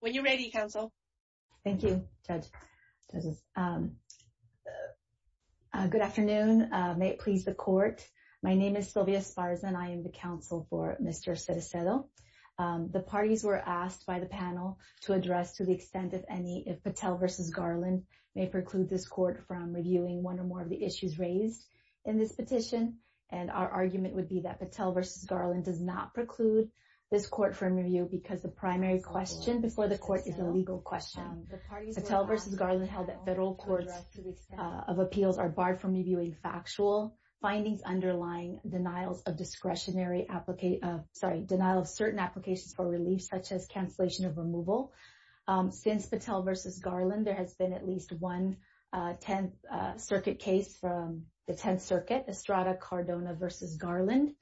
When you're ready, counsel. Thank you, Judge. Good afternoon. May it please the court. My name is Sylvia Esparza and I am the counsel for Mr. Cerecedo. The parties were asked by the panel to address to the extent of any if Patel v. Garland may preclude this court from reviewing one or more of the issues raised in this petition. And our argument would be that Patel v. Garland does not preclude this court from review because the primary question before the court is a legal question. Patel v. Garland held that federal courts of appeals are barred from reviewing factual findings underlying denials of discretionary application, sorry, denial of certain applications for relief such as cancellation of removal. Since Patel v. Garland, there has been at least one Tenth Circuit case from the Tenth Circuit in Maryland.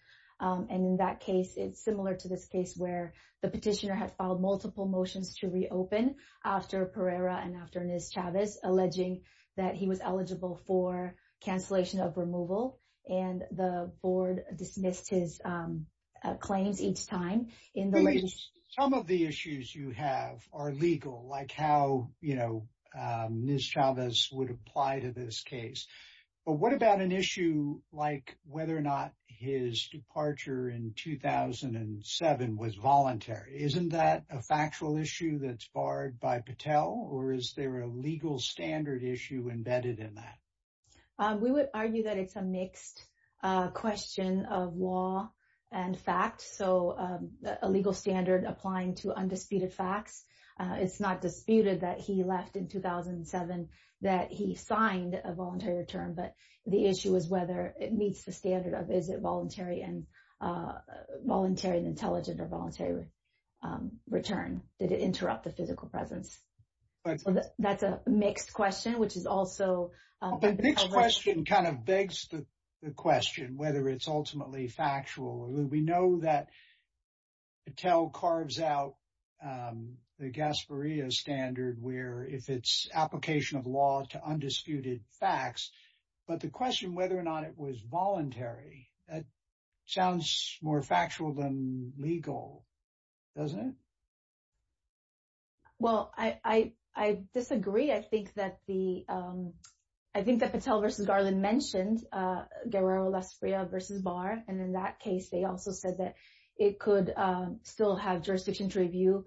And in that case, it's similar to this case where the petitioner had filed multiple motions to reopen after Pereira and after Ms. Chavez, alleging that he was eligible for cancellation of removal. And the board dismissed his claims each time in the latest. Some of the issues you have are legal, like how Ms. Chavez would apply to this case. But what about an issue like whether or not his departure in 2007 was voluntary? Isn't that a factual issue that's barred by Patel? Or is there a legal standard issue embedded in that? We would argue that it's a mixed question of law and fact. So a legal standard applying to undisputed facts. It's not disputed that he left in 2007, that he signed a voluntary return. But the issue is whether it meets the standard of, is it voluntary and intelligent or voluntary return? Did it interrupt the physical presence? So that's a mixed question, which is also been covered. Well, the mixed question kind of begs the question whether it's ultimately factual. We know that Patel carves out the Gasparilla standard where if it's application of law to undisputed facts. But the question whether or not it was voluntary, that sounds more factual than legal, doesn't it? Well, I disagree. I think that the, I think that Patel versus Garland mentioned Guerrero Lasprilla versus Barr. And in that case, they also said that it could still have jurisdiction to review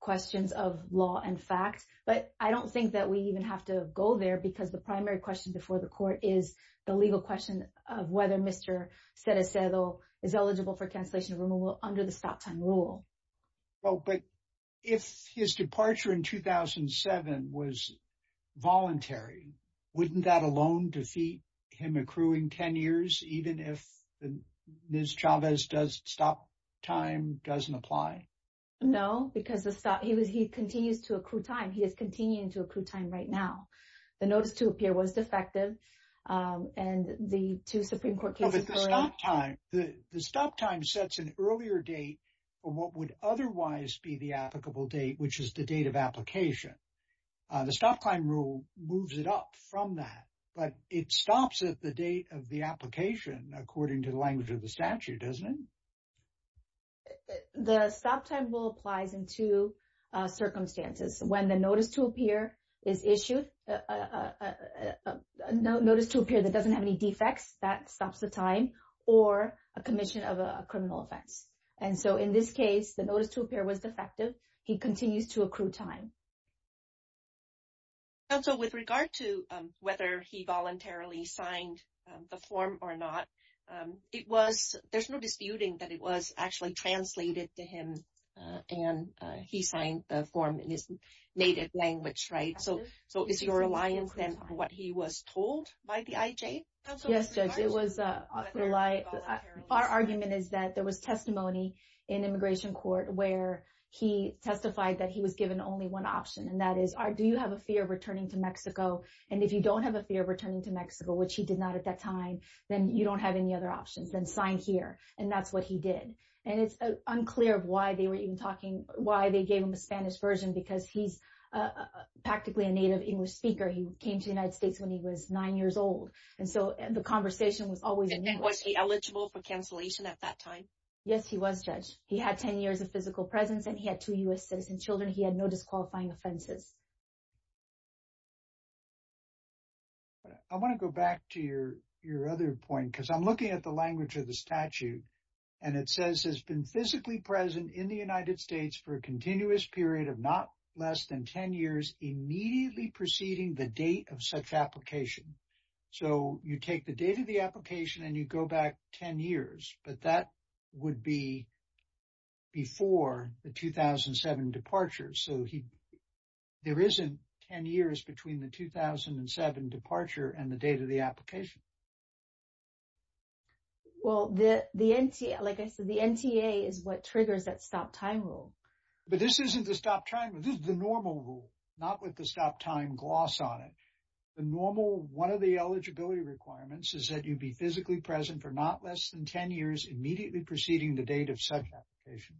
questions of law and facts. But I don't think that we even have to go there because the primary question before the court is the legal question of whether Mr. Cedecedo is eligible for cancellation removal under the stop time rule. Well, but if his departure in 2007 was voluntary, wouldn't that alone defeat him accruing 10 years, even if Ms. Chavez does stop time doesn't apply? No, because he continues to accrue time. He is continuing to accrue time right now. The notice to appear was defective. And the two Supreme Court cases were. The stop time sets an earlier date for what would otherwise be the applicable date, which is the date of application. The stop time rule moves it up from that. But it stops at the date of the application, according to the language of the statute, doesn't it? The stop time rule applies in two circumstances. When the notice to appear is issued, a notice to appear that doesn't have any defects, that stops the time, or a commission of a criminal offense. And so, in this case, the notice to appear was defective. He continues to accrue time. Counsel, with regard to whether he voluntarily signed the form or not, it was, there's no disputing that it was actually translated to him, and he signed the form in his native language, right? So, is your reliance then on what he was told by the IJ? Yes, Judge, it was, our argument is that there was testimony in immigration court where he had one option, and that is, do you have a fear of returning to Mexico? And if you don't have a fear of returning to Mexico, which he did not at that time, then you don't have any other options. Then sign here. And that's what he did. And it's unclear of why they were even talking, why they gave him a Spanish version, because he's practically a native English speaker. He came to the United States when he was nine years old. And so, the conversation was always in English. And was he eligible for cancellation at that time? Yes, he was, Judge. He had 10 years of physical presence, and he had two U.S. citizen children. He had no disqualifying offenses. I want to go back to your other point, because I'm looking at the language of the statute, and it says, has been physically present in the United States for a continuous period of not less than 10 years, immediately preceding the date of such application. So, you take the date of the application, and you go back 10 years, but that would be before the 2007 departure. So, there isn't 10 years between the 2007 departure and the date of the application. Well, the NTA, like I said, the NTA is what triggers that stop time rule. But this isn't the stop time. This is the normal rule, not with the stop time gloss on it. The normal, one of the eligibility requirements is that you'd be physically present for not less than 10 years, immediately preceding the date of such application.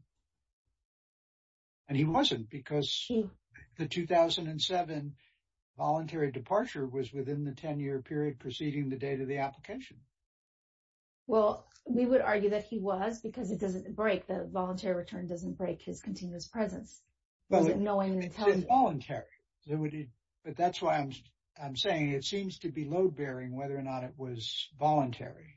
And he wasn't, because the 2007 voluntary departure was within the 10-year period preceding the date of the application. Well, we would argue that he was, because it doesn't break. The voluntary return doesn't break his continuous presence. But it's involuntary. But that's why I'm saying it seems to be load-bearing whether or not it was voluntary.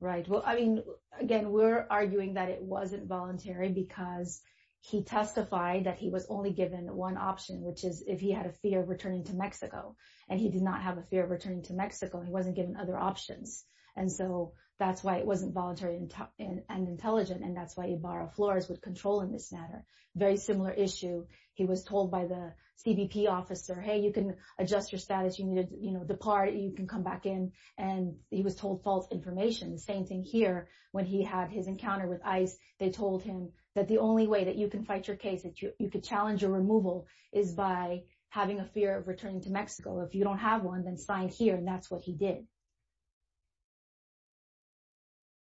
Right. Well, I mean, again, we're arguing that it wasn't voluntary because he testified that he was only given one option, which is if he had a fear of returning to Mexico. And he did not have a fear of returning to Mexico. He wasn't given other options. And so, that's why it wasn't voluntary and intelligent. And that's why Ibarra-Flores would control in this matter. Very similar issue. He was told by the CBP officer, hey, you can adjust your status. You need to depart. You can come back in. And he was told false information. Same thing here. When he had his encounter with ICE, they told him that the only way that you can fight your case, that you could challenge your removal, is by having a fear of returning to Mexico. If you don't have one, then sign here. And that's what he did.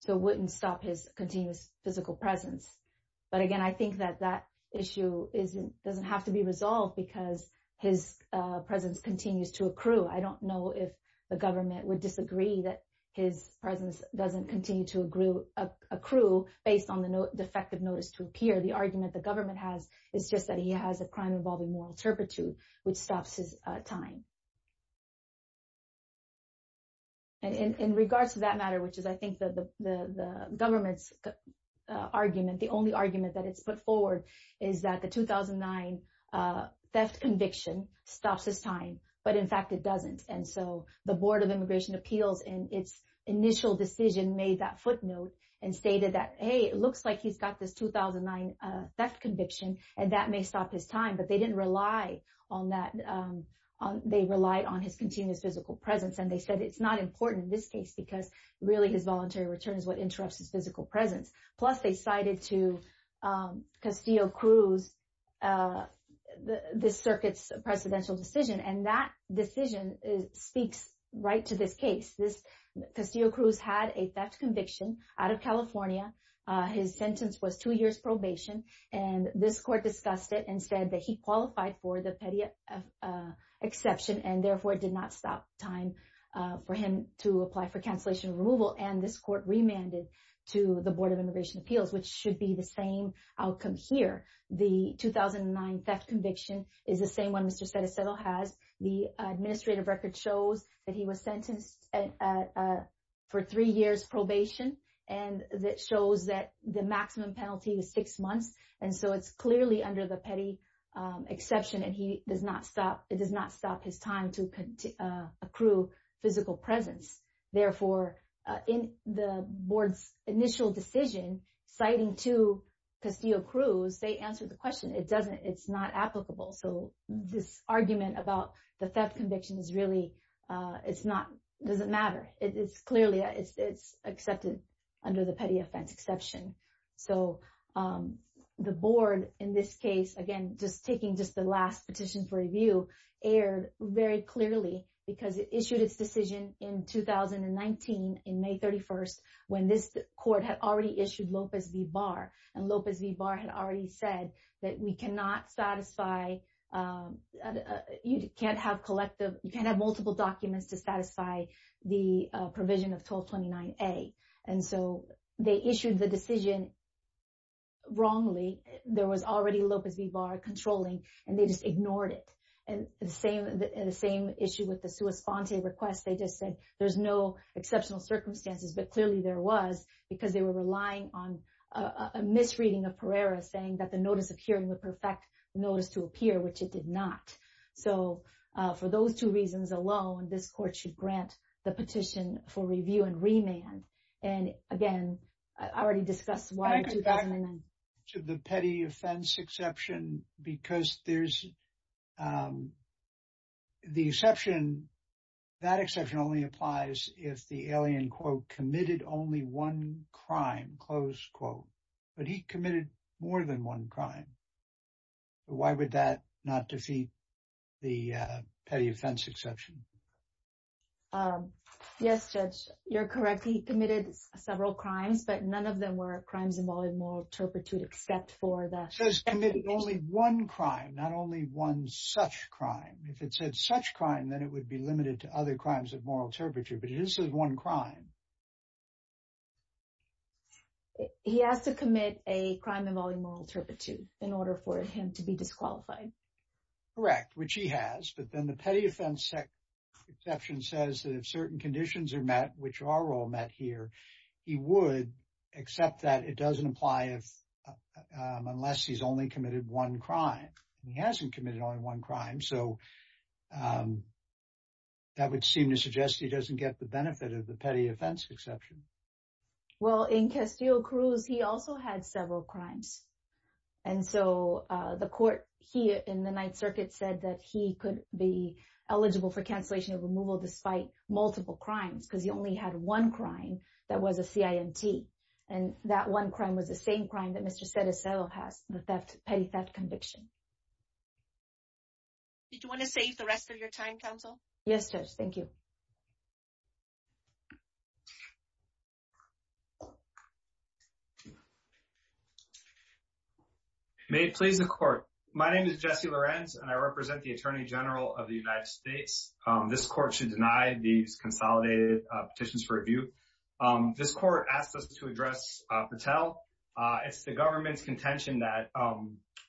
So, it wouldn't stop his continuous physical presence. But again, I think that that issue doesn't have to be resolved because his presence continues to accrue. I don't know if the government would disagree that his presence doesn't continue to accrue based on the defective notice to appear. The argument the government has is just that he has a crime involving moral turpitude, which stops his time. And in regards to that matter, which is, I think, the government's argument, the only argument that it's put forward is that the 2009 theft conviction stops his time. But in fact, it doesn't. And so, the Board of Immigration Appeals, in its initial decision, made that footnote and stated that, hey, it looks like he's got this 2009 theft conviction, and that may stop his time. But they didn't rely on that. They relied on his continuous physical presence. And they said it's not important in this case because really, voluntary return is what interrupts his physical presence. Plus, they cited to Castillo-Cruz the circuit's precedential decision. And that decision speaks right to this case. Castillo-Cruz had a theft conviction out of California. His sentence was two years probation. And this court discussed it and said that he qualified for the PETIA exception, and therefore, it did not stop time for him to apply for cancellation removal. And this court remanded to the Board of Immigration Appeals, which should be the same outcome here. The 2009 theft conviction is the same one Mr. Setesedo has. The administrative record shows that he was sentenced for three years probation. And that shows that the maximum penalty was six months. And so, it's clearly under the PETIA exception, and it does not stop his time to accrue physical presence. Therefore, in the board's initial decision, citing to Castillo-Cruz, they answered the question, it's not applicable. So, this argument about the theft conviction is really, it doesn't matter. It's clearly accepted under the PETIA offense exception. So, the board, in this case, again, just taking just the last petition for review, aired very clearly because it issued its decision in 2019, in May 31st, when this court had already issued Lopez v. Barr. And Lopez v. Barr had already said that we cannot satisfy, you can't have collective, you can't have multiple documents to satisfy the provision of 1229A. And so, they issued the decision wrongly. There was already Lopez v. Barr controlling, and they just ignored it. And the same issue with the sua sponte request, they just said, there's no exceptional circumstances, but clearly there was, because they were relying on a misreading of Pereira saying that the notice of hearing would perfect the notice to appear, which it did not. So, for those two reasons alone, this court should grant the petition for review and remand. And again, I already discussed why- Can I go back to the PETIA offense exception? Because there's, the exception, that exception only applies if the alien, quote, committed only one crime, close quote. But he committed more than one crime. Why would that not defeat the PETIA offense exception? Yes, Judge, you're correct. He committed several crimes, but none of them were crimes involving moral turpitude except for the- Says commit only one crime, not only one such crime. If it said such crime, then it would be limited to other crimes of moral turpitude, but it just says one crime. He has to commit a crime involving moral turpitude in order for him to be disqualified. Correct, which he has, but then the PETIA offense exception says that if certain conditions are met, which are all met here, he would accept that it doesn't apply unless he's only committed one crime. He hasn't committed only one crime, so that would seem to suggest he doesn't get the benefit of the PETIA offense exception. Well, in Castillo-Cruz, he also had several crimes. And so the court here in the Ninth Circuit said that he could be eligible for cancellation of removal despite multiple crimes because he only had one crime that was a CIMT. And that one crime was the same crime that Mr. Cedesello has, the petty theft conviction. Did you want to save the rest of your time, counsel? Yes, Judge, thank you. May it please the court. My name is Jesse Lorenz, and I represent the Attorney General of the United States. This court should deny these consolidated petitions for review. This court asked us to address Patel. It's the government's contention that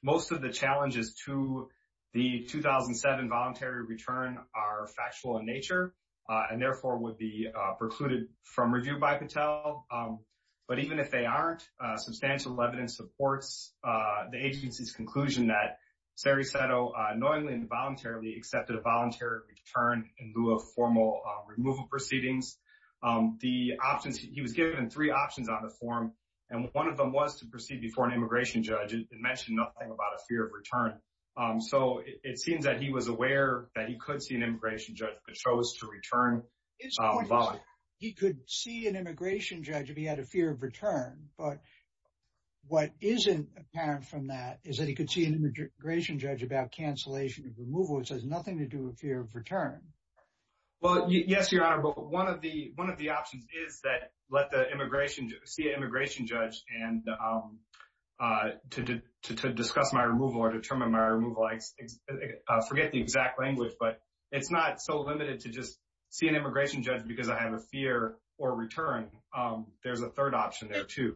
most of the challenges to the 2007 voluntary return are factual in nature and therefore would precluded from review by Patel. But even if they aren't, substantial evidence supports the agency's conclusion that Ceresetto knowingly and voluntarily accepted a voluntary return in lieu of formal removal proceedings. He was given three options on the form, and one of them was to proceed before an immigration judge. It mentioned nothing about a fear of return. So it seems that he was aware that he could see an immigration judge but chose to return voluntarily. He could see an immigration judge if he had a fear of return. But what isn't apparent from that is that he could see an immigration judge about cancellation of removal, which has nothing to do with fear of return. Well, yes, Your Honor, but one of the options is that let the immigration judge see an immigration judge and to discuss my removal or determine my removal. I forget the exact language, but it's not so limited to just see an immigration judge because I have a fear or return. There's a third option there too.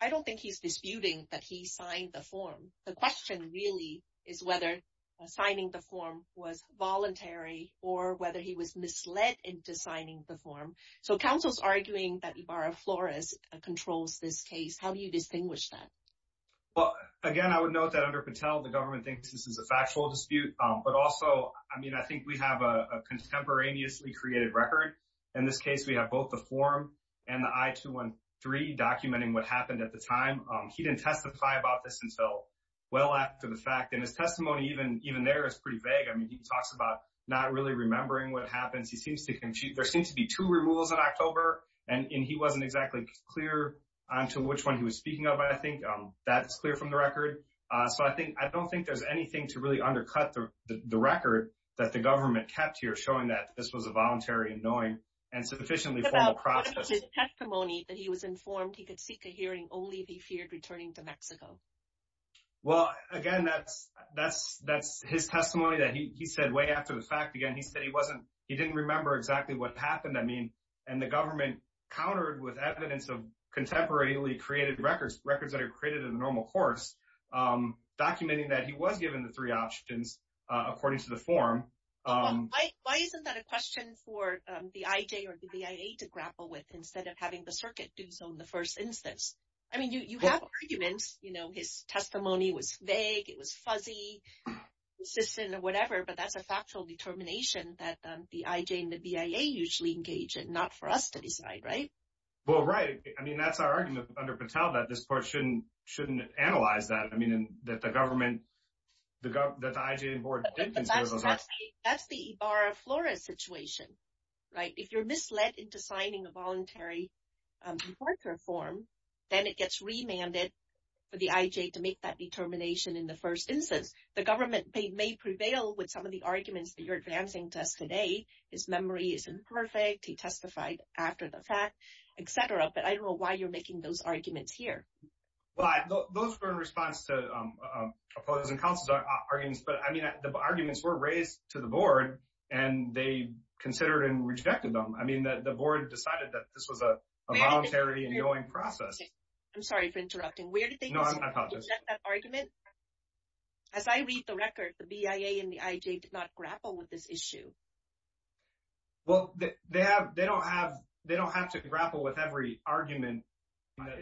I don't think he's disputing that he signed the form. The question really is whether signing the form was voluntary or whether he was misled into signing the form. So counsel's arguing that Ibarra Flores controls this case. How do you distinguish that? Well, again, I would note that under Patel, the government thinks this is a factual dispute. But also, I mean, I think we have a contemporaneously created record. In this case, we have both the form and the I-213 documenting what happened at the time. He didn't testify about this until well after the fact. And his testimony even there is pretty vague. I mean, he talks about not really remembering what happens. There seems to be two removals in October, and he wasn't exactly clear on to which one he was speaking of. But I think that's clear from the record. So I don't think there's anything to really undercut the record that the government kept here showing that this was a voluntary and knowing and sufficiently formal process. What about his testimony that he was informed he could seek a hearing only if he feared returning to Mexico? Well, again, that's his testimony that he said way after the fact. Again, he said he didn't remember exactly what happened. I mean, and the government countered with evidence of contemporaneously created records, records that are created in a normal course, documenting that he was given the three options according to the form. Why isn't that a question for the IJ or the BIA to grapple with instead of having the circuit do so in the first instance? I mean, you have arguments, you know, his testimony was vague, it was fuzzy, consistent or whatever, but that's a factual determination that the IJ and the BIA usually engage in, not for us to decide, right? Well, right. I mean, that's our argument under Patel that this portion shouldn't analyze that. I mean, that the government, that the IJ and board That's the Ibarra Flores situation, right? If you're misled into signing a voluntary report or form, then it gets remanded for the IJ to make that determination in the first instance, the government may prevail with some of the arguments that you're advancing to us today, his memory isn't perfect, he testified after the fact, etc. But I don't know why you're making those arguments here. Well, those were in response to opposing counsel's arguments. But I mean, the arguments were raised to the board, and they considered and rejected them. I mean, that the board decided that this was a voluntary and going process. I'm sorry for interrupting. Where did they know that argument? As I read the record, the BIA and the IJ did not grapple with this issue. Well, they have, they don't have, they don't have to grapple with every argument.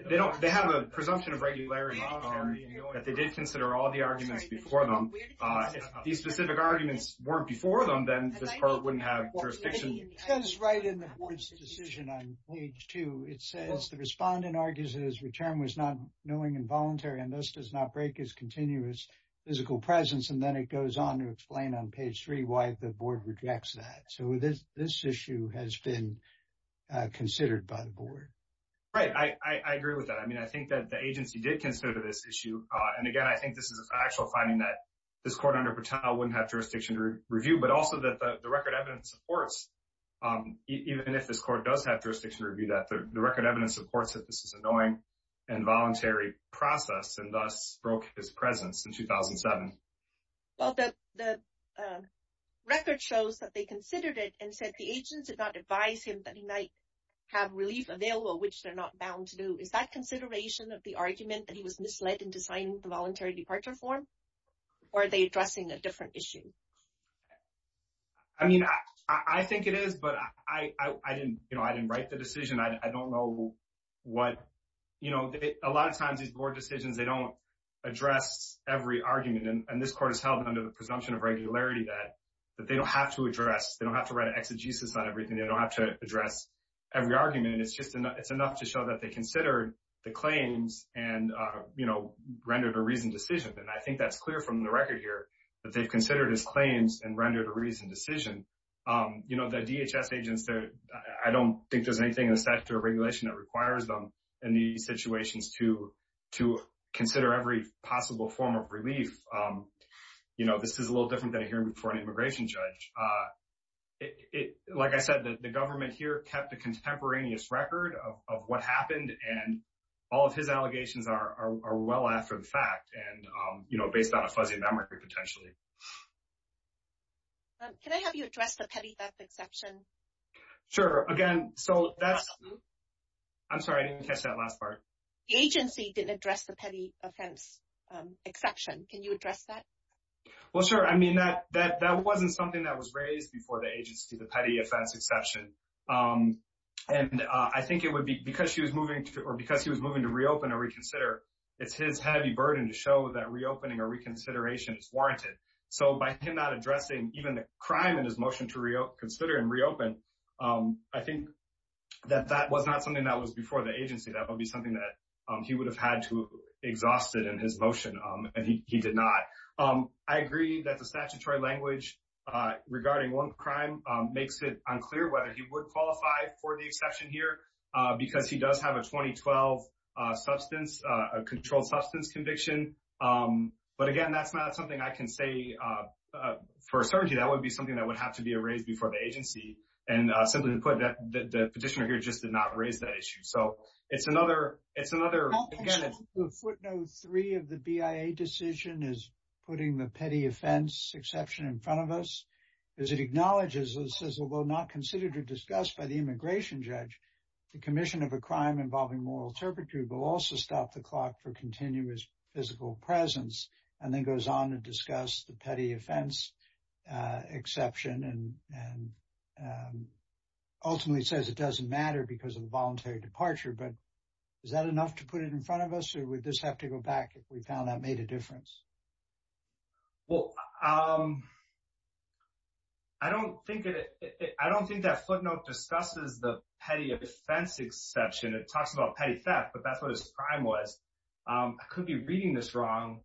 They don't, they have a presumption of regularity that they did consider all the arguments before them. These specific arguments weren't before them, then this part wouldn't have jurisdiction. It says right in the board's decision on page two, it says the respondent argues his return was not knowing and voluntary and thus does not break his continuous physical presence. And then it goes on to explain on page three why the board rejects that. So this issue has been considered by the board. Right, I agree with that. I mean, I think that the agency did consider this issue. And again, I think this is an actual finding that this court under Patel wouldn't have jurisdiction to review, but also that the record evidence supports, even if this court does have jurisdiction to review that, the record evidence supports that this is a knowing and voluntary process and thus broke his presence in 2007. Well, the record shows that they considered it and said the agents did not advise him that he might have relief available, which they're not bound to do. Is that consideration of the argument that he was misled in designing the voluntary departure form? Or are they addressing a different issue? I mean, I think it is, but I didn't, you know, I didn't write the decision. I don't know what, you know, a lot of times these board decisions, they don't address every argument. And this court has held under the presumption of regularity that they don't have to address, they don't have to write an exegesis on everything. They don't have to address every argument. And it's just, it's enough to show that they considered the claims and, you know, rendered a reasoned decision. And I think that's clear from the record here that they've considered his claims and rendered a reasoned decision. You know, the DHS agents, I don't think there's anything in the statute of regulation that requires them in these situations to consider every possible form of relief. You know, this is a little different than a hearing before an immigration judge. Like I said, the government here kept a contemporaneous record of what happened and all of his allegations are well after the fact and, you know, based on a fuzzy memory potentially. Can I have you address the petty theft exception? Sure. Again, so that's, I'm sorry, I didn't catch that last part. The agency didn't address the petty offense exception. Can you address that? Well, sure. I mean, that wasn't something that was raised before the agency, the petty offense exception. And I think it would be because she was moving to, or because he was moving to reopen or reconsider, it's his heavy burden to show that reopening or reconsideration is warranted. So by him not addressing even the crime in his motion to consider and reopen, I think that that was not something that was before the agency. That would be something that he would have had to exhaust it in his motion and he did not. I agree that the statutory language regarding one crime makes it unclear whether he would qualify for the exception here because he does have a 2012 substance, a controlled substance conviction. But again, that's not something I can say for a certainty. That would be something that would have to be erased before the agency. And simply to put that, the petitioner here just did not raise that issue. So it's another, it's another, again, it's- The footnote three of the BIA decision is putting the petty offense exception in front of us. As it acknowledges, it says, although not considered or discussed by the immigration judge, the commission of a crime involving moral turpitude will also stop the clock for continuous physical presence. And then goes on to discuss the petty offense exception and ultimately says it doesn't matter because of the voluntary departure. But is that enough to put it in front of us or would this have to go back if we found that made a difference? Well, I don't think it, I don't think that footnote discusses the petty offense exception. It talks about petty theft, but that's what his crime was. I could be reading this wrong,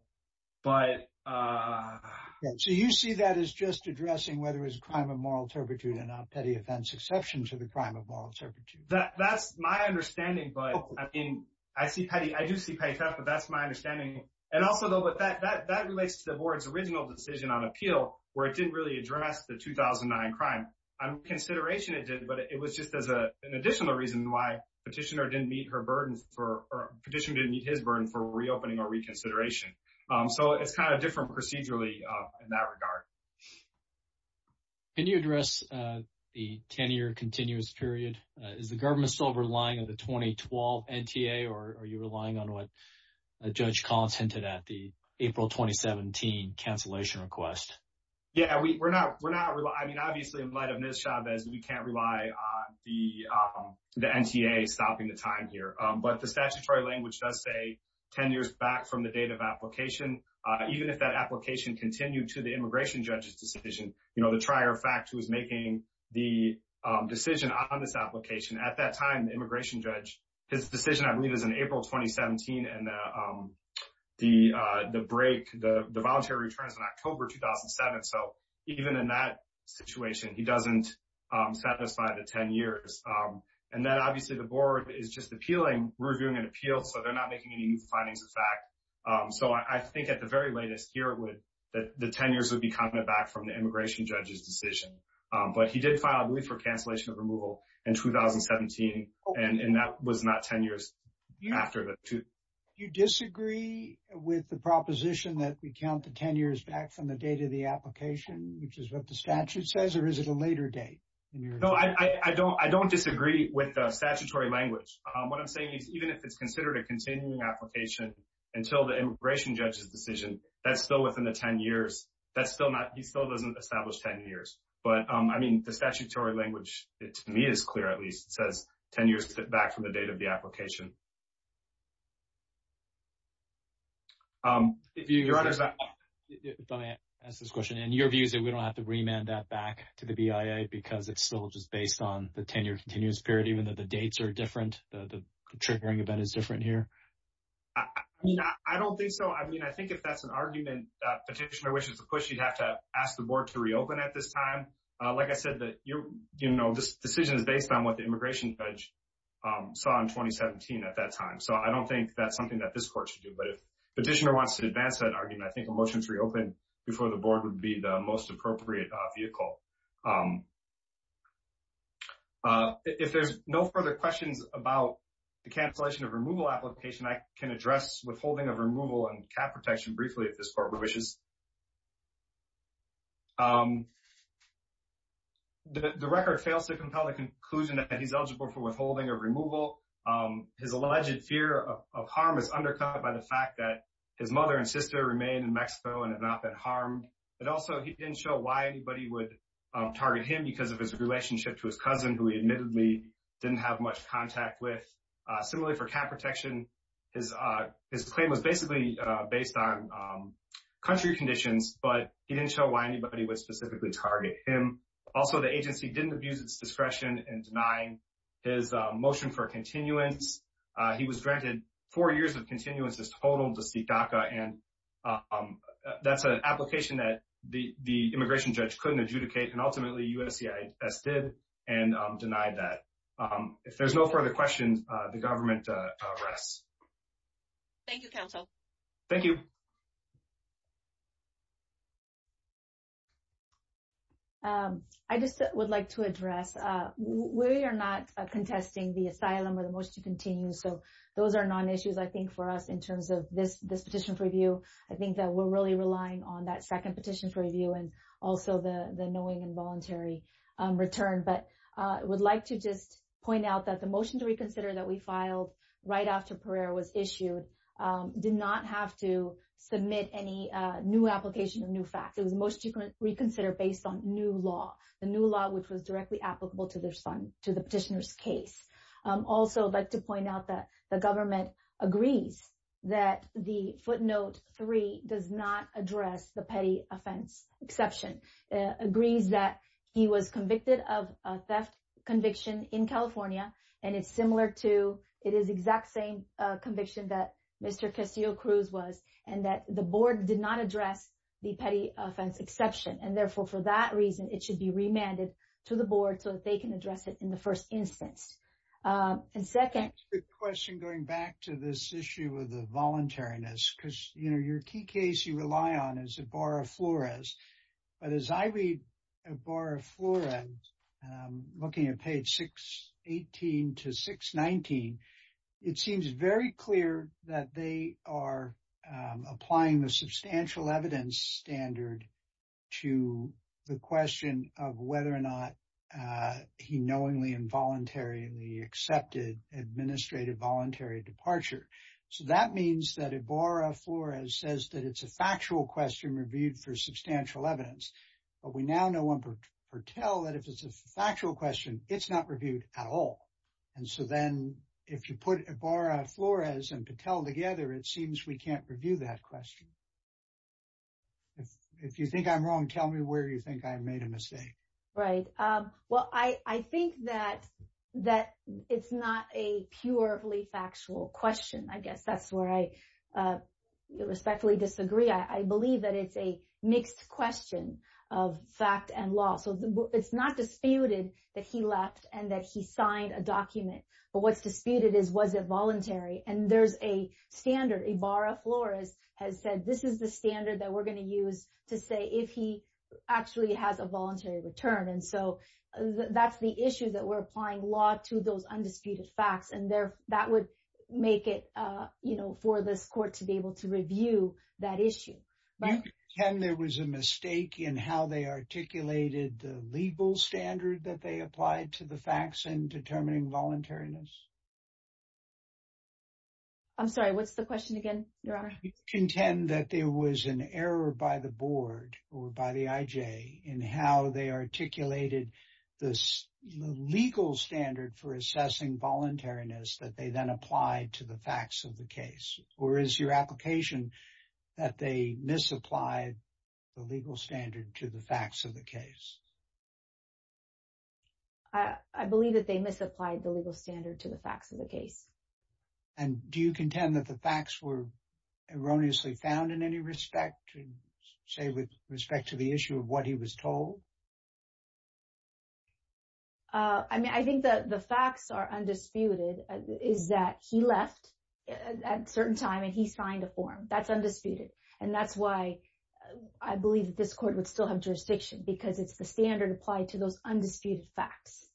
but- So you see that as just addressing whether it's a crime of moral turpitude and not petty offense exception to the crime of moral turpitude. That's my understanding. But I mean, I see petty, I do see petty theft, but that's my That relates to the board's original decision on appeal where it didn't really address the 2009 crime. On consideration it did, but it was just as an additional reason why petitioner didn't meet her burdens for, petitioner didn't meet his burden for reopening or reconsideration. So it's kind of different procedurally in that regard. Can you address the 10-year continuous period? Is the government still relying on the 2012 NTA or are you relying on what Judge Collins hinted at, the April 2017 cancellation request? Yeah, we're not, I mean, obviously in light of Ms. Chavez, we can't rely on the NTA stopping the time here. But the statutory language does say 10 years back from the date of application. Even if that application continued to the immigration judge's decision, you know, the trier of fact who was making the decision on this application at that time, immigration judge, his decision I believe is in April 2017 and the break, the voluntary returns in October 2007. So even in that situation, he doesn't satisfy the 10 years. And then obviously the board is just appealing, reviewing an appeal, so they're not making any new findings of fact. So I think at the very latest here, the 10 years would be coming back from the immigration judge's decision in 2017. And that was not 10 years after the two. Do you disagree with the proposition that we count the 10 years back from the date of the application, which is what the statute says, or is it a later date? No, I don't disagree with the statutory language. What I'm saying is even if it's considered a continuing application until the immigration judge's decision, that's still within the 10 years. That's still not, he still doesn't establish 10 years. But I mean, the statutory language, it to me is clear, at least, it says 10 years back from the date of the application. If you, your honor, if I may ask this question, and your view is that we don't have to remand that back to the BIA because it's still just based on the 10-year continuous period, even though the dates are different, the triggering event is different here? I don't think so. I mean, I think if that's an argument, petitioner wishes to push, you'd have to ask the board to reopen at this time. Like I said, this decision is based on what the immigration judge saw in 2017 at that time. So I don't think that's something that this court should do. But if petitioner wants to advance that argument, I think a motion to reopen before the board would be the most appropriate vehicle. If there's no further questions about the cancellation of removal application, I can address withholding of removal and cap protection briefly if this court wishes. The record fails to compel the conclusion that he's eligible for withholding or removal. His alleged fear of harm is undercut by the fact that his mother and sister remain in Mexico and have not been harmed. But also, he didn't show why anybody would target him because of his relationship to his cousin, who he admittedly didn't have much contact with. Similarly, for cap protection, his claim was basically based on country conditions, but he didn't show why anybody would specifically target him. Also, the agency didn't abuse its discretion in denying his motion for continuance. He was granted four years of continuances total to seek DACA. And that's an application that the immigration judge couldn't adjudicate. And ultimately, USCIS did and denied that. If there's no further questions, the government rests. Thank you, counsel. Thank you. I just would like to address, we are not contesting the asylum or the motion to continue. So, those are non-issues, I think, for us in terms of this petition for review. I think that we're really relying on that second petition for review and also the knowing and voluntary return. But I would like to just point out that the motion to reconsider that we filed right after Pereira was issued, did not have to submit any new application of new facts. It was motion to reconsider based on new law, the new law which was directly applicable to the petitioner's case. Also, I'd like to point out that the government agrees that the footnote three does not address the petty offense exception. It agrees that he was convicted of a theft conviction in California. And it's similar to, it is exact same conviction that Mr. Castillo-Cruz was and that the board did not address the petty offense exception. And therefore, for that reason, it should be remanded to the board so that they can address it in the first instance. And second- Question going back to this issue of the voluntariness because, you know, your key case you rely on is Ibarra-Flores. But as I read Ibarra-Flores, looking at page 618 to 619, it seems very clear that they are applying the substantial evidence standard to the question of whether or not he knowingly involuntarily accepted administrative voluntary departure. So, that means that Ibarra-Flores says that it's a factual question reviewed for substantial evidence. But we now know on Patel that if it's a factual question, it's not reviewed at all. And so then, if you put Ibarra-Flores and Patel together, it seems we can't review that question. If you think I'm wrong, tell me where you think I made a mistake. Right. Well, I think that it's not a purely factual question. I guess that's where I respectfully disagree. I believe that it's a mixed question of fact and law. So, it's not disputed that he left and that he signed a document. But what's disputed is was it voluntary. And there's a standard. Ibarra-Flores has said, this is the standard that we're going to use to say if he actually has a voluntary return. And so, that's the issue that we're applying law to those undisputed facts. And that would make it, you know, for this court to be able to review that issue. Ken, there was a mistake in how they articulated the legal standard that they applied to the facts in determining voluntariness. I'm sorry. What's the question again, Your Honor? Do you contend that there was an error by the board or by the IJ in how they articulated this legal standard for assessing voluntariness that they then applied to the facts of the case? Or is your application that they misapplied the legal standard to the facts of the case? I believe that they misapplied the legal standard to the facts of the case. And do you contend that the facts were erroneously found in any respect, say, with respect to the issue of what he was told? I mean, I think that the facts are undisputed is that he left at a certain time and he's trying to form. That's undisputed. And that's why I believe that this court would still have jurisdiction because it's the standard applied to those undisputed facts.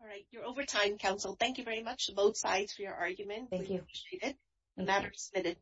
All right. You're over time, counsel. Thank you very much, both sides for your argument. Thank you. Appreciate it. The matter is submitted.